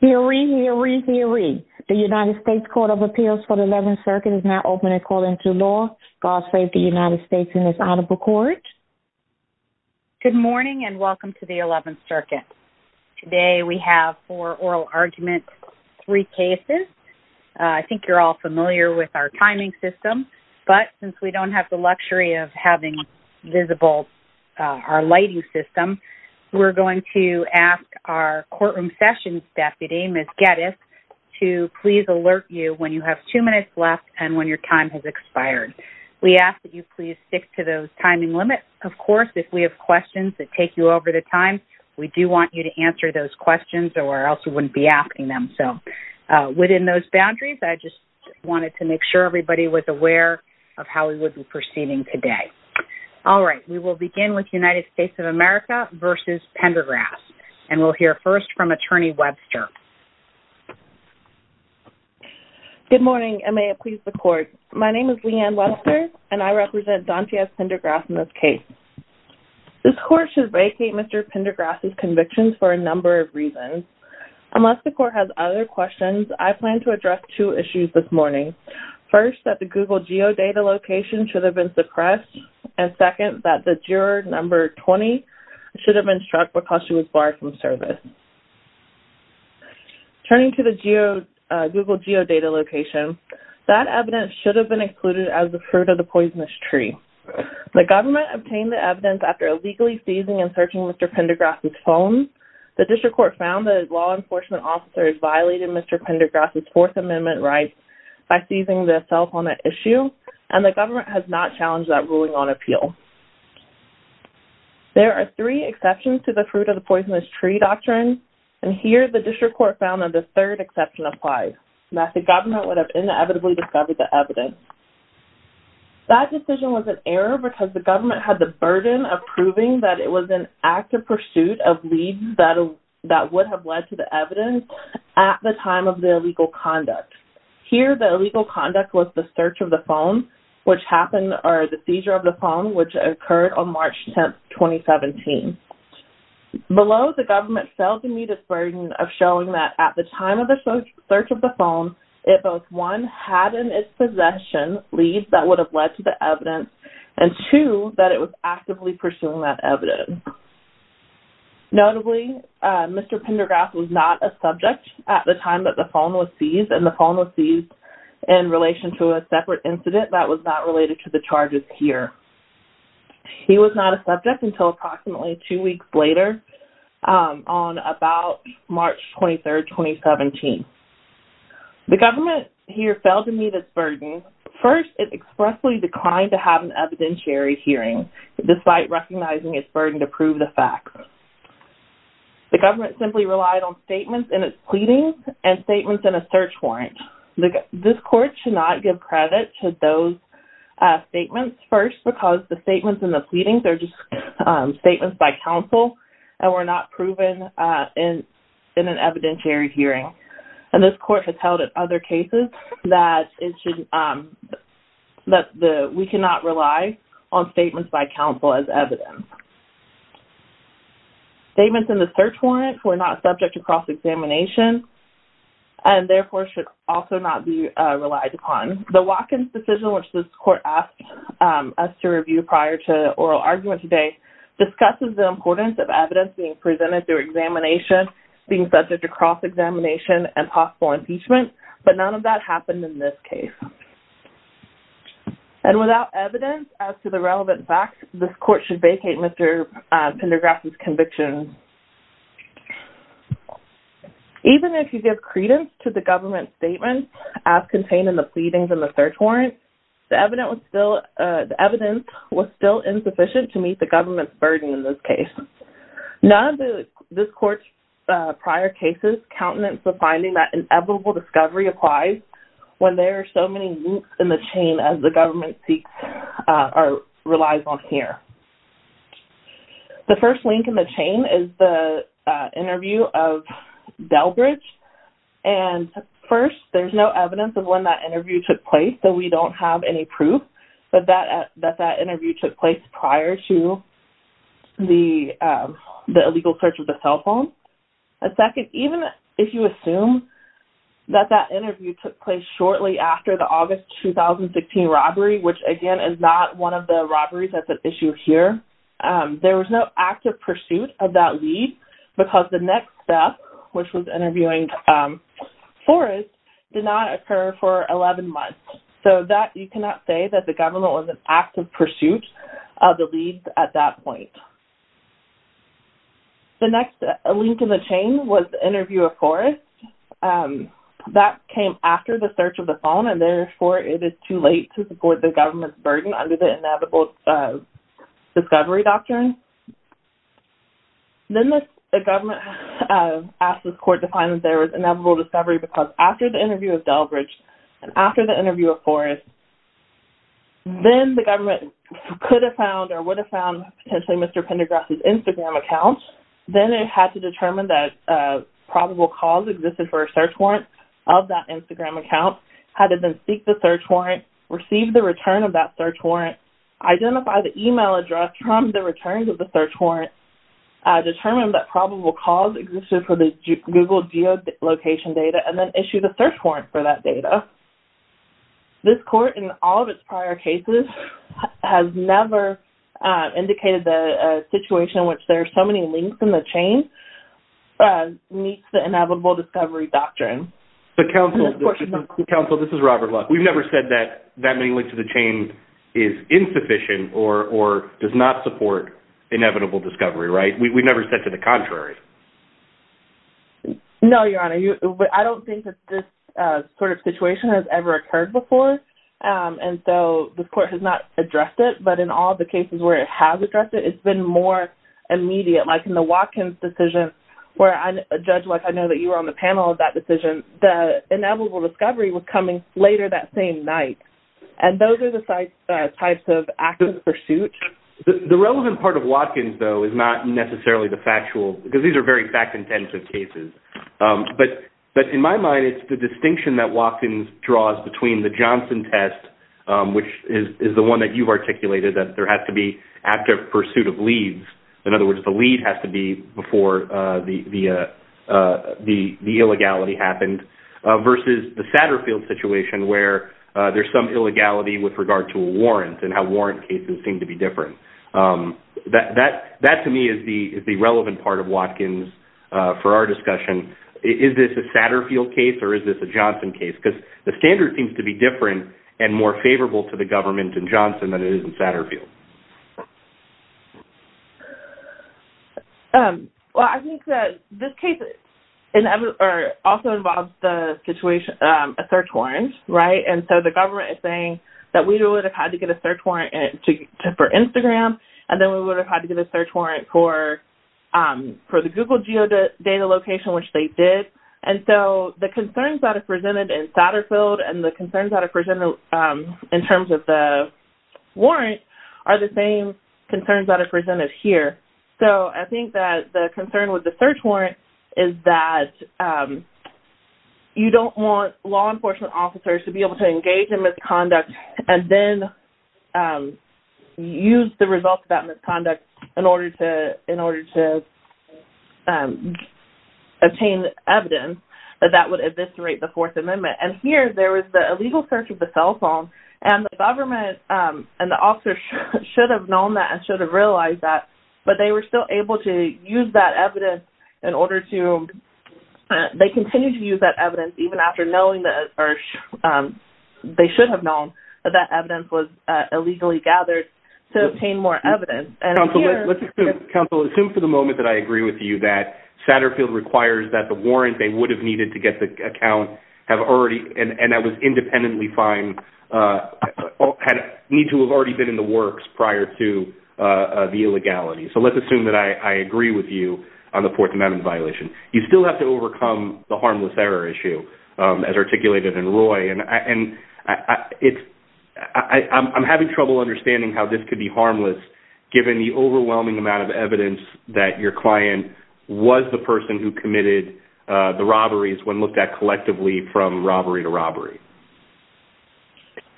Hear ye, hear ye, hear ye. The United States Court of Appeals for the Eleventh Circuit is now open and according to law. God save the United States and its honorable court. Good morning and welcome to the Eleventh Circuit. Today we have four oral arguments, three cases. I think you're all familiar with our timing system, but since we don't have the luxury of having visible our lighting system, we're going to ask our courtroom sessions deputy, Ms. Geddes, to please alert you when you have two minutes left and when your time has expired. We ask that you please stick to those timing limits. Of course, if we have questions that take you over the time, we do want you to answer those questions or else we wouldn't be asking them. So within those boundaries, I just wanted to make sure everybody was aware of how we would be proceeding today. All right, we will begin with United States of America v. Pendergrass and we'll hear first from Attorney Webster. Good morning and may it please the court. My name is Leanne Webster and I represent Dontiez Pendergrass in this case. This court should vacate Mr. Pendergrass' convictions for a number of reasons. Unless the court has other questions, I plan to address two issues this morning. First, that the Google Geodata location should have been suppressed and second, that the juror number 20 should have been struck because she was barred from service. Turning to the Google Geodata location, that evidence should have been included as the fruit of the poisonous tree. The government obtained the evidence after illegally seizing and searching Mr. Pendergrass' phone. The district court found that law enforcement officers violated Mr. Pendergrass' Fourth Amendment rights by seizing the cell phone at issue and the government has not challenged that ruling on appeal. There are three exceptions to the fruit of the poisonous tree doctrine and here the district court found that the third exception applies, that the government would have inevitably discovered the evidence. That decision was an error because the government had the burden of proving that it was an active pursuit of leads that would have led to the evidence at the time of the illegal conduct. Here, the illegal conduct was the search of the phone, which happened, or the seizure of the phone, which occurred on March 10, 2017. Below, the government failed to meet its burden of showing that at the time of the search of the phone, it both, one, had in its possession leads that would have led to the evidence and two, that it was actively pursuing that evidence. Notably, Mr. Pendergrass was not a subject at the time that the phone was seized and the phone was seized in relation to a separate incident that was not related to the charges here. He was not a subject until approximately two weeks later on about March 23, 2017. The government here failed to meet its burden. First, it expressly declined to have an evidentiary hearing despite recognizing its burden to prove the facts. The government simply relied on statements in its pleadings and statements in a search warrant. This court should not give credit to those statements. First, because the statements in the pleadings are just statements by counsel and were not proven in an evidentiary hearing. And this court has held in other cases that we cannot rely on statements by counsel as evidence. Statements in the search warrant were not subject to cross-examination and therefore should also not be relied upon. The Watkins decision, which this court asked us to review prior to oral argument today, discusses the importance of evidence being presented through examination, being subject to cross-examination and possible impeachment, but none of that happened in this case. And without evidence as to the relevant facts, this court should vacate Mr. Pendergraft's conviction. Even if you give credence to the government's statements as contained in the pleadings in the search warrant, the evidence was still insufficient to meet the government's burden in this case. None of this court's prior cases countenance the finding that inevitable discovery applies when there are so many links in the chain as the government seeks or relies on here. The first link in the chain is the interview of Delbridge. And first, there's no evidence of when that interview took place, so we don't have any proof that that interview took place prior to the illegal search of the cell phone. And second, even if you assume that that interview took place shortly after the August 2016 robbery, which again is not one of the robberies that's at issue here, there was no active pursuit of that lead because the next step, which was interviewing Forrest, did not occur for 11 months. So that, you cannot say that the government was in active pursuit of the lead at that point. The next link in the chain was the interview of Forrest. That came after the search of the phone and therefore it is too late to support the government's burden under the inevitable discovery doctrine. Then the government asked this court to find that there was inevitable discovery because after the interview of Delbridge and after the interview of Forrest, then the government could have found or would have found potentially Mr. Pendergrass's Instagram account. Then it had to determine that probable cause existed for a search warrant of that Instagram account, had to then seek the search warrant, receive the return of that search warrant, identify the email address from the returns of the search warrant, determine that probable cause existed for the Google geolocation data, and then issue the search warrant for that data. This court, in all of its prior cases, has never indicated the situation in which there are so many links in the chain meets the inevitable discovery doctrine. So counsel, this is Robert Luck. We've never said that that many links to the chain is insufficient or does not support inevitable discovery, right? We've never said to the contrary. No, Your Honor. I don't think that this sort of situation has ever occurred before. And so this court has not addressed it, but in all the cases where it has addressed it, it's been more immediate, like in the Watkins decision, where Judge Luck, I know that you were on the panel of that decision, the inevitable discovery was coming later that same night. And those are the types of active pursuit. The relevant part of Watkins, though, is not necessarily the factual because these are very fact-intensive cases. But in my mind, it's the distinction that Watkins draws between the Johnson test, which is the one that you've articulated, that there has to be active pursuit of leads. In other words, the lead has to be before the illegality happened, versus the Satterfield situation, where there's some illegality with regard to a warrant and how warrant cases seem to be different. That, to me, is the relevant part of Watkins for our discussion. Is this a Satterfield case or is this a Johnson case? Because the standard seems to be different and more favorable to the government in Johnson than it is in Satterfield. Well, I think that this case also involves a search warrant, right? And so the government is saying that we would have had to get a search warrant for Instagram, and then we would have had to get a search warrant for the Google Geodata location, which they did. And so the concerns that are presented in Satterfield and the concerns that are presented in terms of the warrant are the same concerns that are presented here. So I think that the concern with the search warrant is that you don't want law enforcement officers to be able to engage in misconduct and then use the results of that misconduct in order to obtain evidence that that would eviscerate the Fourth Amendment. And here, there was the illegal search of the cell phone, and the government and the officers should have known that and should have realized that, but they were still able to use that evidence in order to... They should have known that that evidence was illegally gathered to obtain more evidence. Counsel, let's assume for the moment that I agree with you that Satterfield requires that the warrant they would have needed to get the account have already... and that was independently fine... need to have already been in the works prior to the illegality. So let's assume that I agree with you on the Fourth Amendment violation. You still have to overcome the harmless error issue, as articulated in Roy, and I'm having trouble understanding how this could be harmless given the overwhelming amount of evidence that your client was the person who committed the robberies when looked at collectively from robbery to robbery.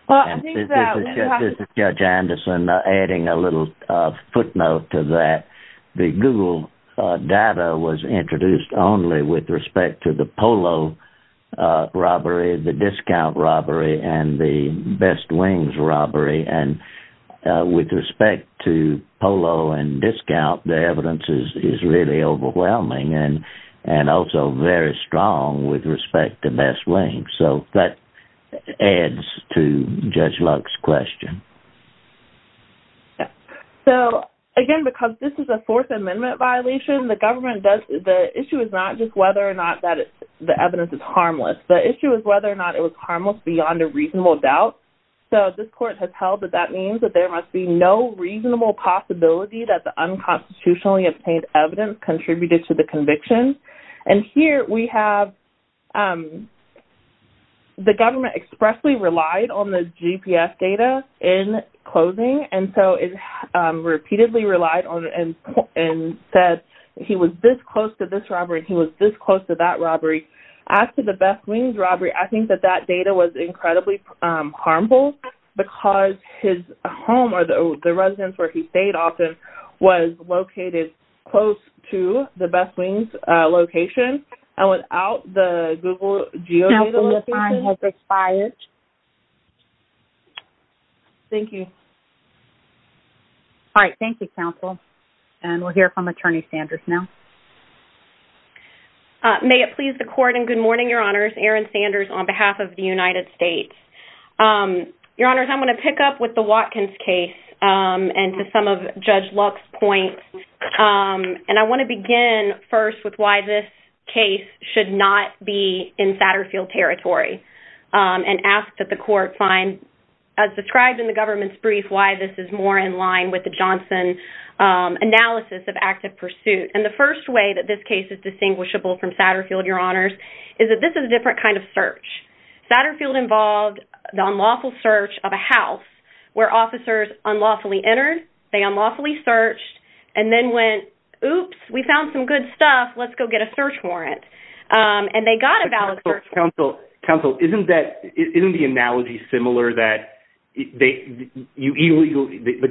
This is Judge Anderson adding a little footnote to that. The Google data was introduced only with respect to the polo robbery, the discount robbery, and the Best Wings robbery, and with respect to polo and discount, the evidence is really overwhelming and also very strong with respect to Best Wings. So that adds to Judge Luck's question. So, again, because this is a Fourth Amendment violation, the issue is not just whether or not the evidence is harmless. The issue is whether or not it was harmless beyond a reasonable doubt. So this court has held that that means that there must be no reasonable possibility that the unconstitutionally obtained evidence contributed to the conviction. And here we have the government expressly relied on the GPS data in closing, and so it repeatedly relied on it and said he was this close to this robbery and he was this close to that robbery. As to the Best Wings robbery, I think that that data was incredibly harmful because his home or the residence where he stayed often was located close to the Best Wings location, and without the Google geodata... Now the line has expired. Thank you. All right, thank you, counsel. And we'll hear from Attorney Sanders now. May it please the court and good morning, Your Honors. Erin Sanders on behalf of the United States. Your Honors, I'm going to pick up with the Watkins case and to some of Judge Luck's points. And I want to begin first with why this case should not be in Satterfield territory. And ask that the court find, as described in the government's brief, why this is more in line with the Johnson analysis of active pursuit. And the first way that this case is distinguishable from Satterfield, Your Honors, is that this is a different kind of search. Satterfield involved the unlawful search of a house where officers unlawfully entered, they unlawfully searched, and then went, oops, we found some good stuff, let's go get a search warrant. And they got a valid search warrant. Counsel, isn't the analogy similar that the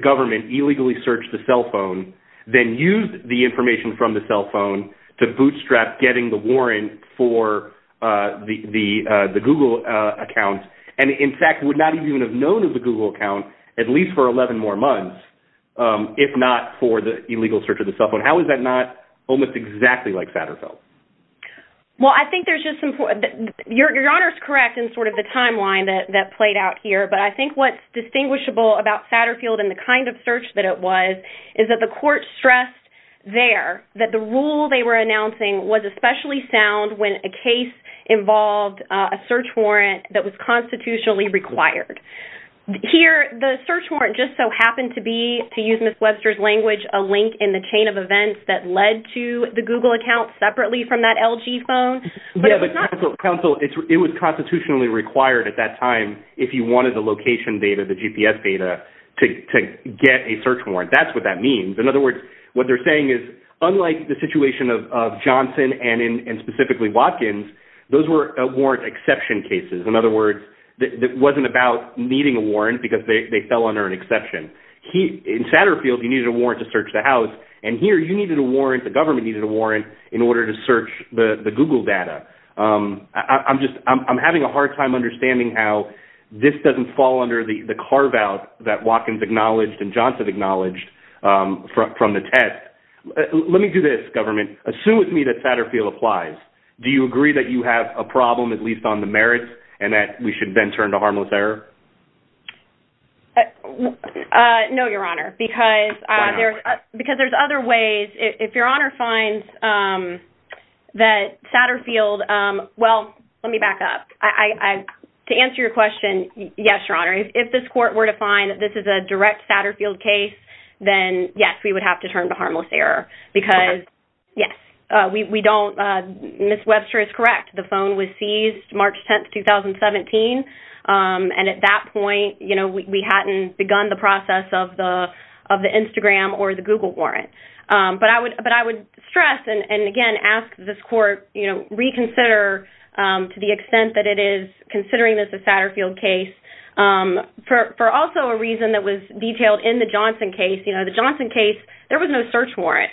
government illegally searched the cell phone, then used the information from the cell phone to bootstrap getting the warrant for the Google account, and in fact would not even have known of the Google account at least for 11 more months, if not for the illegal search of the cell phone. How is that not almost exactly like Satterfield? Well, I think there's just some, Your Honor's correct in sort of the timeline that played out here, but I think what's distinguishable about Satterfield and the kind of search that it was is that the court stressed there that the rule they were announcing was especially sound when a case involved a search warrant that was constitutionally required. Here, the search warrant just so happened to be, to use Ms. Webster's language, a link in the chain of events that led to the Google account separately from that LG phone. Yeah, but Counsel, it was constitutionally required at that time if you wanted the location data, the GPS data, to get a search warrant. That's what that means. In other words, what they're saying is unlike the situation of Johnson and specifically Watkins, those were warrant exception cases. In other words, it wasn't about needing a warrant because they fell under an exception. In Satterfield, you needed a warrant to search the house, and here you needed a warrant, the government needed a warrant, in order to search the Google data. I'm having a hard time understanding how this doesn't fall under the carve-out that Watkins acknowledged and Johnson acknowledged from the test. Let me do this, government. Assume with me that Satterfield applies. Do you agree that you have a problem, at least on the merits, and that we should then turn to harmless error? No, Your Honor, because there's other ways. If Your Honor finds that Satterfield... Well, let me back up. To answer your question, yes, Your Honor. If this court were to find that this is a direct Satterfield case, then, yes, we would have to turn to harmless error because, yes, we don't... Ms. Webster is correct. The phone was seized March 10, 2017, and at that point, you know, we hadn't begun the process of the Instagram or the Google warrant. But I would stress and, again, ask this court, you know, reconsider to the extent that it is, considering this a Satterfield case, for also a reason that was detailed in the Johnson case. You know, the Johnson case, there was no search warrant.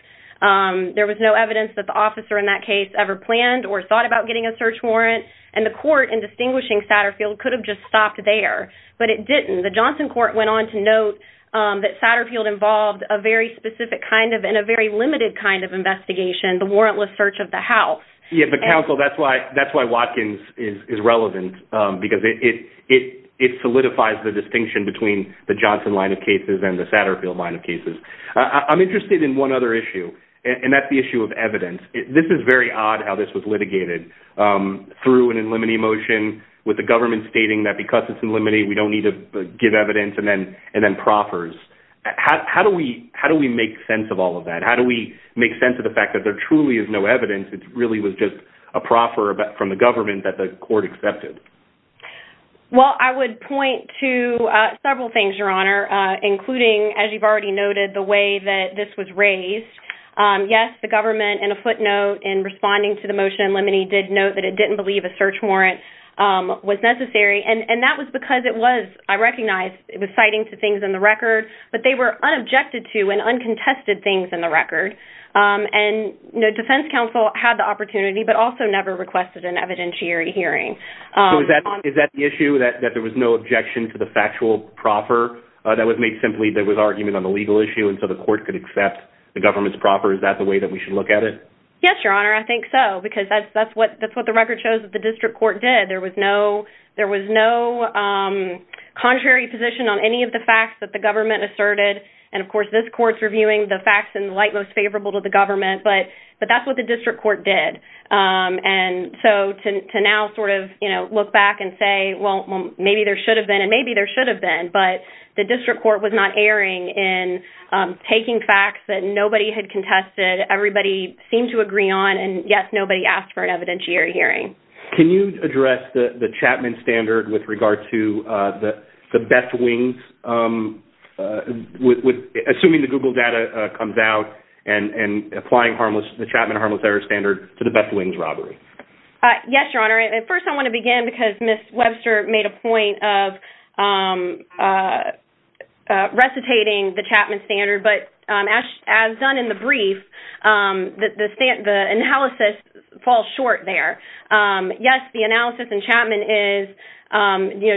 There was no evidence that the officer in that case ever planned or thought about getting a search warrant, and the court in distinguishing Satterfield could have just stopped there, but it didn't. The Johnson court went on to note that Satterfield involved a very specific kind of and a very limited kind of investigation, the warrantless search of the house. Yeah, but, counsel, that's why Watkins is relevant because it solidifies the distinction between the Johnson line of cases and the Satterfield line of cases. I'm interested in one other issue, and that's the issue of evidence. This is very odd how this was litigated through an in limine motion with the government stating that because it's in limine, we don't need to give evidence, and then proffers. How do we make sense of all of that? How do we make sense of the fact that there truly is no evidence? It really was just a proffer from the government that the court accepted. Well, I would point to several things, Your Honor, including, as you've already noted, the way that this was raised. Yes, the government, in a footnote, in responding to the motion in limine, did note that it didn't believe a search warrant was necessary, and that was because it was, I recognize, it was citing to things in the record, but they were unobjected to and uncontested things in the record, and defense counsel had the opportunity but also never requested an evidentiary hearing. Is that the issue, that there was no objection to the factual proffer that was made simply that there was argument on the legal issue, and so the court could accept the government's proffer? Is that the way that we should look at it? Yes, Your Honor, I think so, because that's what the record shows that the district court did. There was no contrary position on any of the facts that the government asserted, and, of course, this court's reviewing the facts in the light most favorable to the government, but that's what the district court did, and so to now sort of look back and say, well, maybe there should have been, and maybe there should have been, but the district court was not erring in taking facts that nobody had contested, everybody seemed to agree on, and, yes, nobody asked for an evidentiary hearing. Can you address the Chapman standard with regard to the Beth Wings, assuming the Google data comes out, and applying the Chapman harmless error standard to the Beth Wings robbery? Yes, Your Honor, and first I want to begin because Ms. Webster made a point of recitating the Chapman standard, but as done in the brief, the analysis falls short there. Yes, the analysis in Chapman is,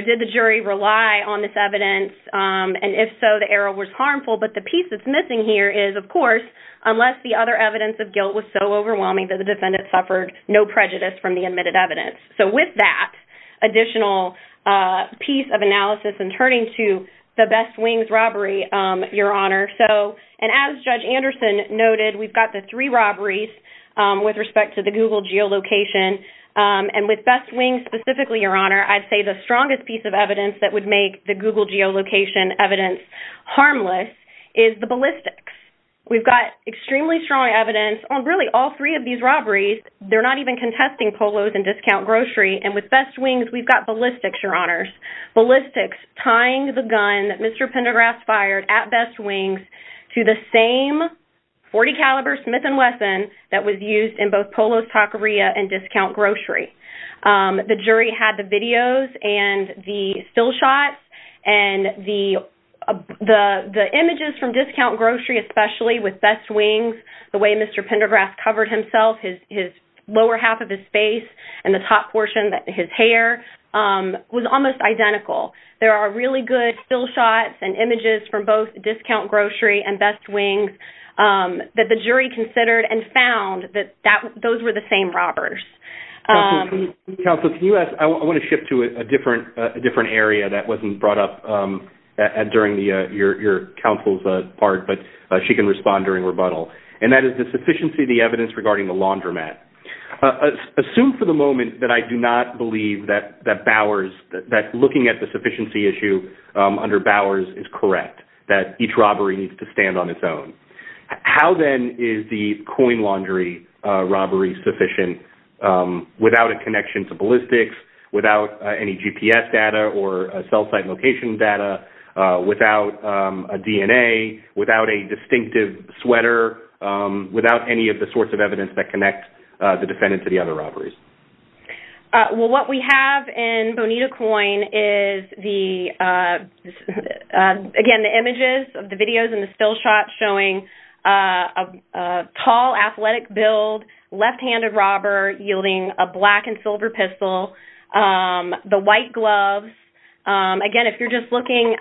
did the jury rely on this evidence, and if so, the error was harmful, but the piece that's missing here is, of course, unless the other evidence of guilt was so overwhelming that the defendant suffered no prejudice from the admitted evidence, so with that additional piece of analysis and turning to the Beth Wings robbery, Your Honor, and as Judge Anderson noted, we've got the three robberies with respect to the Google geolocation, and with Beth Wings specifically, Your Honor, I'd say the strongest piece of evidence that would make the Google geolocation evidence harmless is the ballistics. We've got extremely strong evidence on really all three of these robberies. They're not even contesting polos and discount grocery, and with Beth Wings, we've got ballistics, Your Honors, ballistics, tying the gun that Mr. Pendergrass fired at Beth Wings to the same .40-caliber Smith & Wesson that was used in both polos, taqueria, and discount grocery. The jury had the videos and the still shots, and the images from discount grocery, especially with Beth Wings, the way Mr. Pendergrass covered himself, his lower half of his face, and the top portion, his hair, was almost identical. There are really good still shots and images from both discount grocery and Beth Wings that the jury considered and found that those were the same robbers. Counsel, can you ask... I want to shift to a different area that wasn't brought up during your counsel's part, but she can respond during rebuttal, and that is the sufficiency of the evidence regarding the laundromat. Assume for the moment that I do not believe that Bowers, that looking at the sufficiency issue under Bowers is correct, that each robbery needs to stand on its own. How then is the coin laundry robbery sufficient without a connection to ballistics, without any GPS data or cell site location data, without a DNA, without a distinctive sweater, without any of the sorts of evidence that connects the defendant to the other robberies? Well, what we have in Bonita Coin is the... Again, the images of the videos and the still shots showing a tall, athletic build, left-handed robber yielding a black and silver pistol, the white gloves. Again, if you're just looking...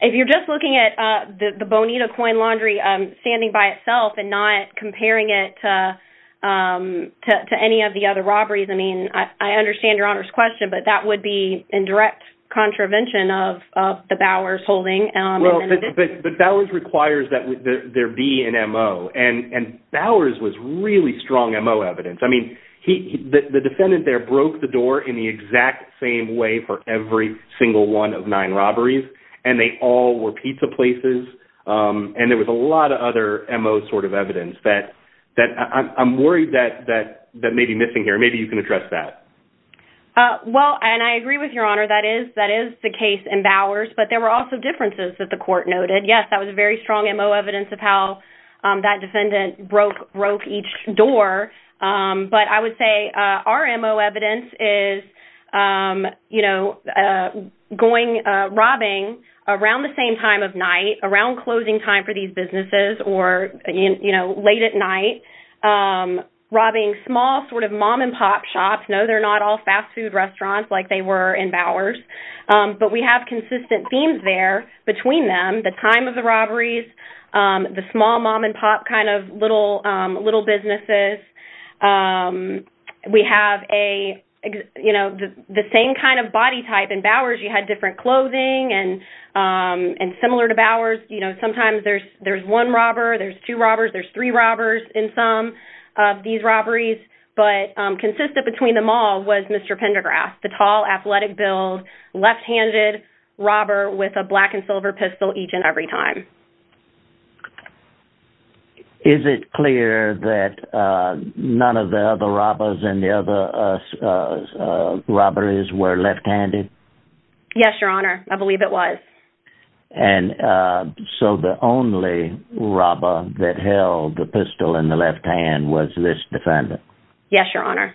If you're just looking at the Bonita Coin laundry standing by itself and not comparing it to any of the other robberies, I mean, I understand Your Honor's question, but that would be in direct contravention of the Bowers holding. Well, but Bowers requires that there be an MO, and Bowers was really strong MO evidence. I mean, the defendant there broke the door in the exact same way for every single one of nine robberies, and they all were pizza places, and there was a lot of other MO sort of evidence that I'm worried that may be missing here. Maybe you can address that. Well, and I agree with Your Honor, that is the case in Bowers, but there were also differences that the court noted. Yes, that was very strong MO evidence of how that defendant broke each door, but I would say our MO evidence is, you know, robbing around the same time of night, around closing time for these businesses, or, you know, late at night, robbing small sort of mom-and-pop shops. No, they're not all fast food restaurants like they were in Bowers, but we have consistent themes there between them, the time of the robberies, the small mom-and-pop kind of little businesses. We have a, you know, the same kind of body type. and similar to Bowers, you know, there's one robber, there's two robbers, there's three robbers in some of these robberies, but consistent between them all was Mr. Pendergrass, the tall, athletic build, left-handed robber with a black-and-silver pistol each and every time. Is it clear that none of the other robbers and the other robberies were left-handed? Yes, Your Honor. I believe it was. And so the only robber that held the pistol in the left hand was this defendant? Yes, Your Honor.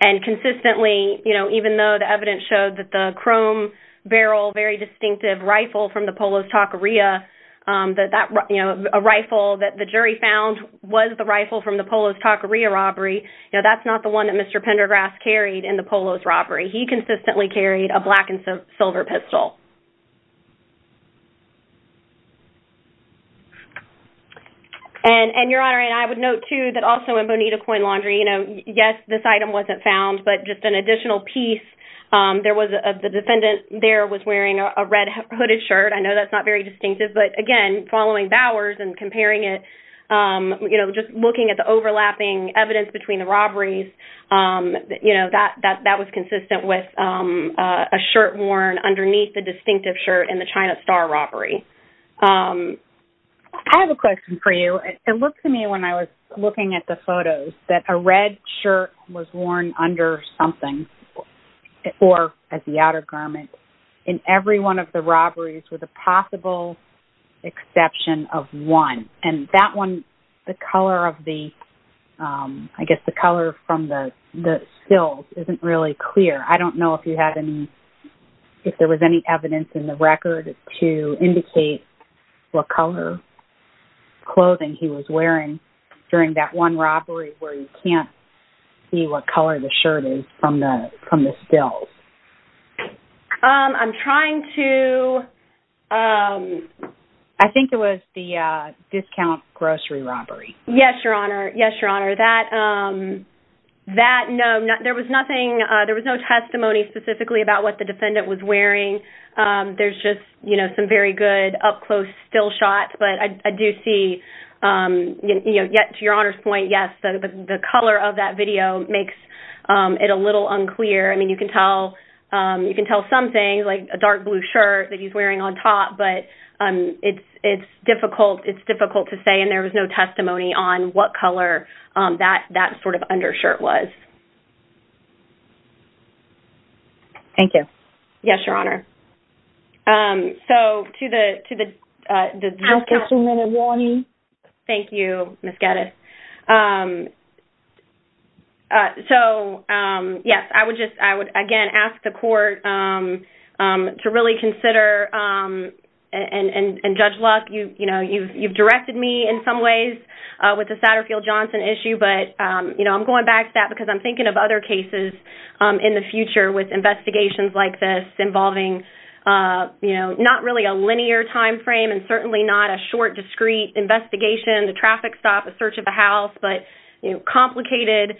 And consistently, you know, even though the evidence showed that the chrome barrel, very distinctive rifle from the Polo's Taqueria, that, you know, a rifle that the jury found was the rifle from the Polo's Taqueria robbery, you know, that's not the one that Mr. Pendergrass carried in the Polo's robbery. He consistently carried a black-and-silver pistol. And, Your Honor, and I would note, too, that also in Bonita Coin Laundry, you know, yes, this item wasn't found, but just an additional piece, there was the defendant there was wearing a red hooded shirt. I know that's not very distinctive, but, again, following Bowers and comparing it, you know, just looking at the overlapping evidence between the robberies, you know, that was consistent with a shirt worn underneath the distinctive shirt in the China Star robbery. I have a question for you. It looked to me when I was looking at the photos that a red shirt was worn under something, or as the outer garment, in every one of the robberies with a possible exception of one. And that one, the colour of the... isn't really clear. I don't know if you had any... if there was any evidence in the record to indicate what colour clothing he was wearing during that one robbery where you can't see what colour the shirt is from the stills. I'm trying to... I think it was the discount grocery robbery. Yes, Your Honor. Yes, Your Honor. That... No, there was nothing... There was no testimony specifically about what the defendant was wearing. There's just, you know, some very good up-close still shots, but I do see... You know, to Your Honor's point, yes, the colour of that video makes it a little unclear. I mean, you can tell... You can tell some things, like a dark blue shirt that he's wearing on top, but it's difficult... It's difficult to say, and there was no testimony on what colour that sort of undershirt was. Thank you. Yes, Your Honor. So, to the... Just a few minutes warning. Thank you, Ms Geddes. So, yes, I would just... I would, again, ask the court to really consider... And Judge Luck, you know, you've directed me in some ways with the Satterfield-Johnson issue, but, you know, I'm going back to that because I'm thinking of other cases in the future with investigations like this involving, you know, not really a linear time frame and certainly not a short, discreet investigation, a traffic stop, a search of a house, but, you know, complicated,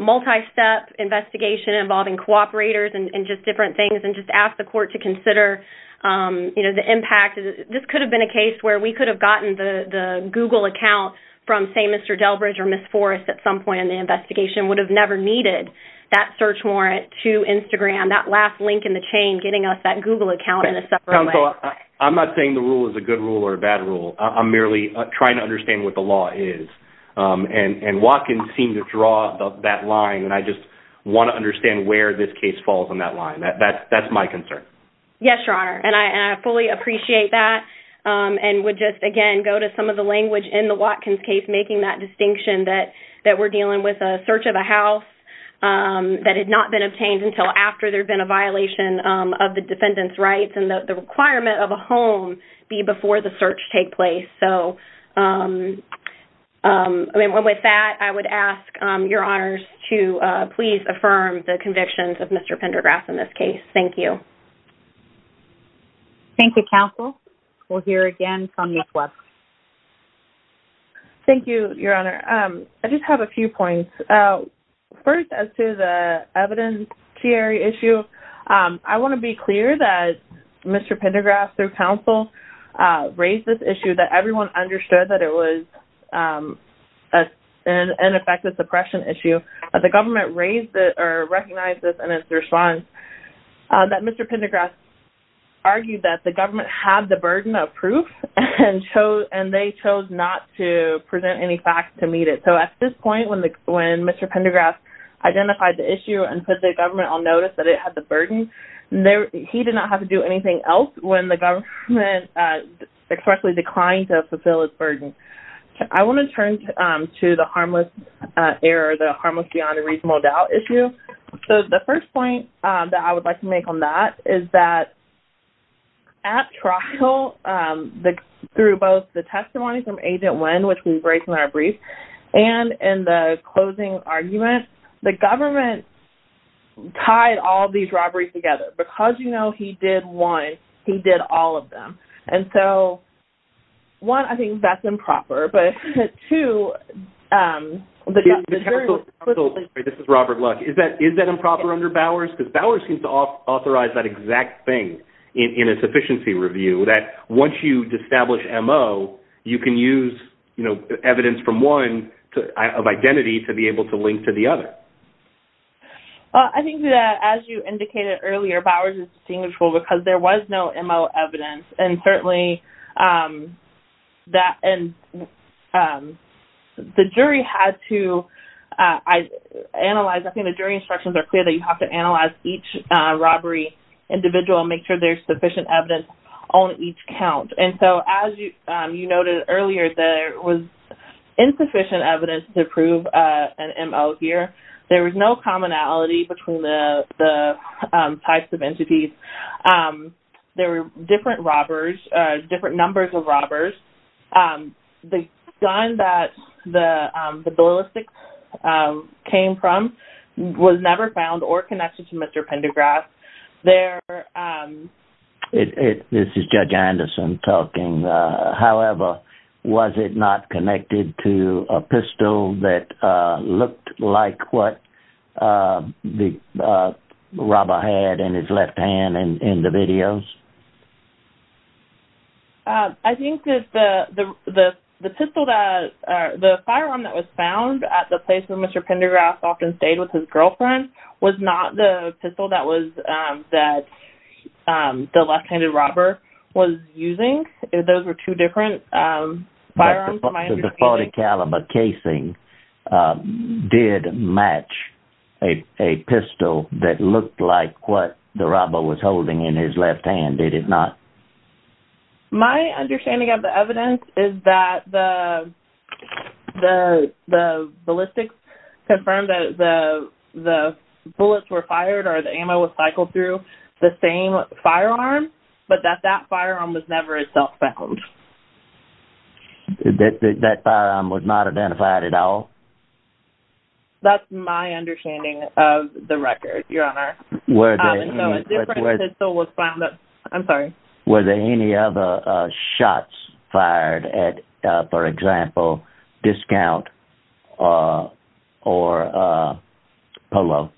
multi-step investigation involving cooperators and just different things, and just ask the court to consider, you know, the impact. This could have been a case where we could have gotten the Google account from, say, Mr Delbridge or Ms Forrest at some point in the investigation would have never needed that search warrant to Instagram, that last link in the chain, getting us that Google account in a separate way. Counsel, I'm not saying the rule is a good rule or a bad rule. I'm merely trying to understand what the law is, and Watkins seemed to draw that line, and I just want to understand where this case falls on that line. That's my concern. Yes, Your Honor, and I fully appreciate that and would just, again, go to some of the language in the Watkins case making that distinction that we're dealing with a search of a house that had not been obtained until after there'd been a violation of the defendant's rights and that the requirement of a home be before the search take place. So, I mean, with that, I would ask Your Honors to please affirm the convictions of Mr Pendergrass in this case. Thank you. Thank you, Counsel. We'll hear again from Ms. Webb. Thank you, Your Honor. I just have a few points. First, as to the evidentiary issue, I want to be clear that Mr Pendergrass, through counsel, raised this issue that everyone understood that it was an ineffective suppression issue. The government recognized this in its response that Mr Pendergrass argued that the government had the burden of proof and they chose not to present any facts to meet it. So at this point, when Mr Pendergrass identified the issue and put the government on notice that it had the burden, he did not have to do anything else when the government expressly declined to fulfill its burden. I want to turn to the harmless error, the harmless beyond a reasonable doubt issue. So the first point that I would like to make on that is that at trial, through both the testimony from Agent Wynn, which we break in our brief, and in the closing argument, the government tied all these robberies together. Because you know he did one, he did all of them. And so one, I think that's improper. But two... This is Robert Luck. Is that improper under Bowers? Because Bowers seems to authorize that exact thing in its efficiency review, that once you establish MO, you can use evidence from one of identity to be able to link to the other. I think that as you indicated earlier, Bowers is distinguishable because there was no MO evidence. And certainly the jury had to analyze... I think the jury instructions are clear that you have to analyze each robbery individual and make sure there's sufficient evidence on each count. And so as you noted earlier, there was insufficient evidence to prove an MO here. There was no commonality between the types of entities. There were different robbers, different numbers of robbers. The gun that the ballistics came from was never found or connected to Mr. Pendergrass. This is Judge Anderson talking. Was there a pistol that looked like what the robber had in his left hand in the videos? I think that the pistol that... The firearm that was found at the place where Mr. Pendergrass often stayed with his girlfriend was not the pistol that the left-handed robber was using. Those were two different firearms. The .40 caliber casing did match a pistol that looked like what the robber was holding in his left hand, did it not? My understanding of the evidence is that the ballistics confirmed that the bullets were fired or the ammo was cycled through the same firearm, but that that firearm was never itself cycled. That firearm was not identified at all? That's my understanding of the record, Your Honour. So a different pistol was found... I'm sorry. Were there any other shots fired at, for example, Discount or Polo?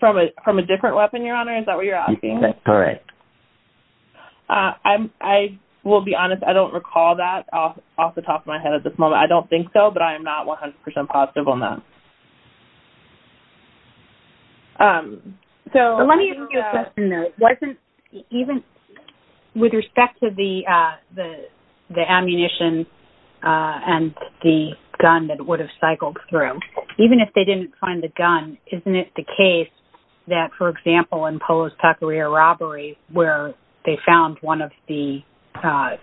From a different weapon, Your Honour? Is that what you're asking? Correct. I will be honest. I don't recall that off the top of my head at this moment. I don't think so, but I am not 100% positive on that. Let me ask you a question, though. Wasn't... With respect to the ammunition and the gun that would have cycled through, even if they didn't find the gun, isn't it the case that, for example, in Polo's Taqueria robbery, where they found one of the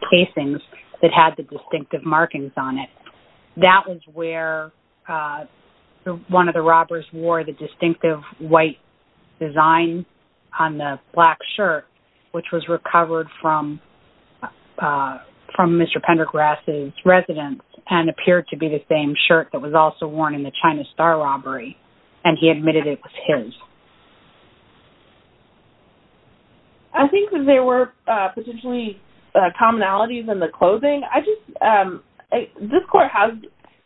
casings that had the distinctive markings on it, that was where one of the robbers wore the distinctive white design on the black shirt, which was recovered from Mr. Pendergrass's residence and appeared to be the same shirt that was also worn in the China Star robbery, and he admitted it was his? I think that there were potentially commonalities in the clothing. I just... This court has...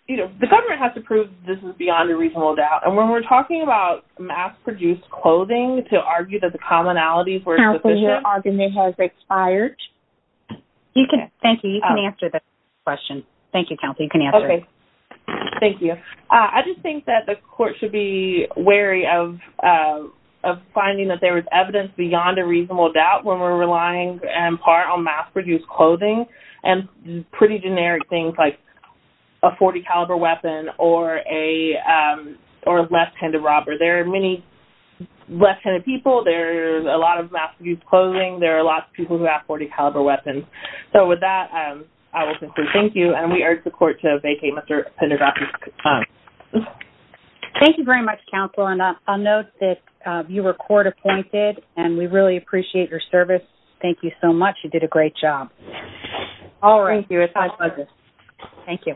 You know, the government has to prove this is beyond a reasonable doubt, and when we're talking about mass-produced clothing to argue that the commonalities were sufficient... Counsel, your argument has expired. You can... Thank you. You can answer the question. Thank you, counsel. You can answer it. OK. Thank you. I just think that the court should be wary of finding that there was evidence beyond a reasonable doubt when we're relying in part on mass-produced clothing and pretty generic things like a .40-caliber weapon or a left-handed robber. There are many left-handed people. There's a lot of mass-produced clothing. There are lots of people who have .40-caliber weapons. So, with that, I will conclude. Thank you. And we urge the court to vacate Mr. Pendergrass's time. Thank you very much, counsel. And I'll note that you were court-appointed, and we really appreciate your service. Thank you so much. You did a great job. All right. Thank you. It was my pleasure. Thank you.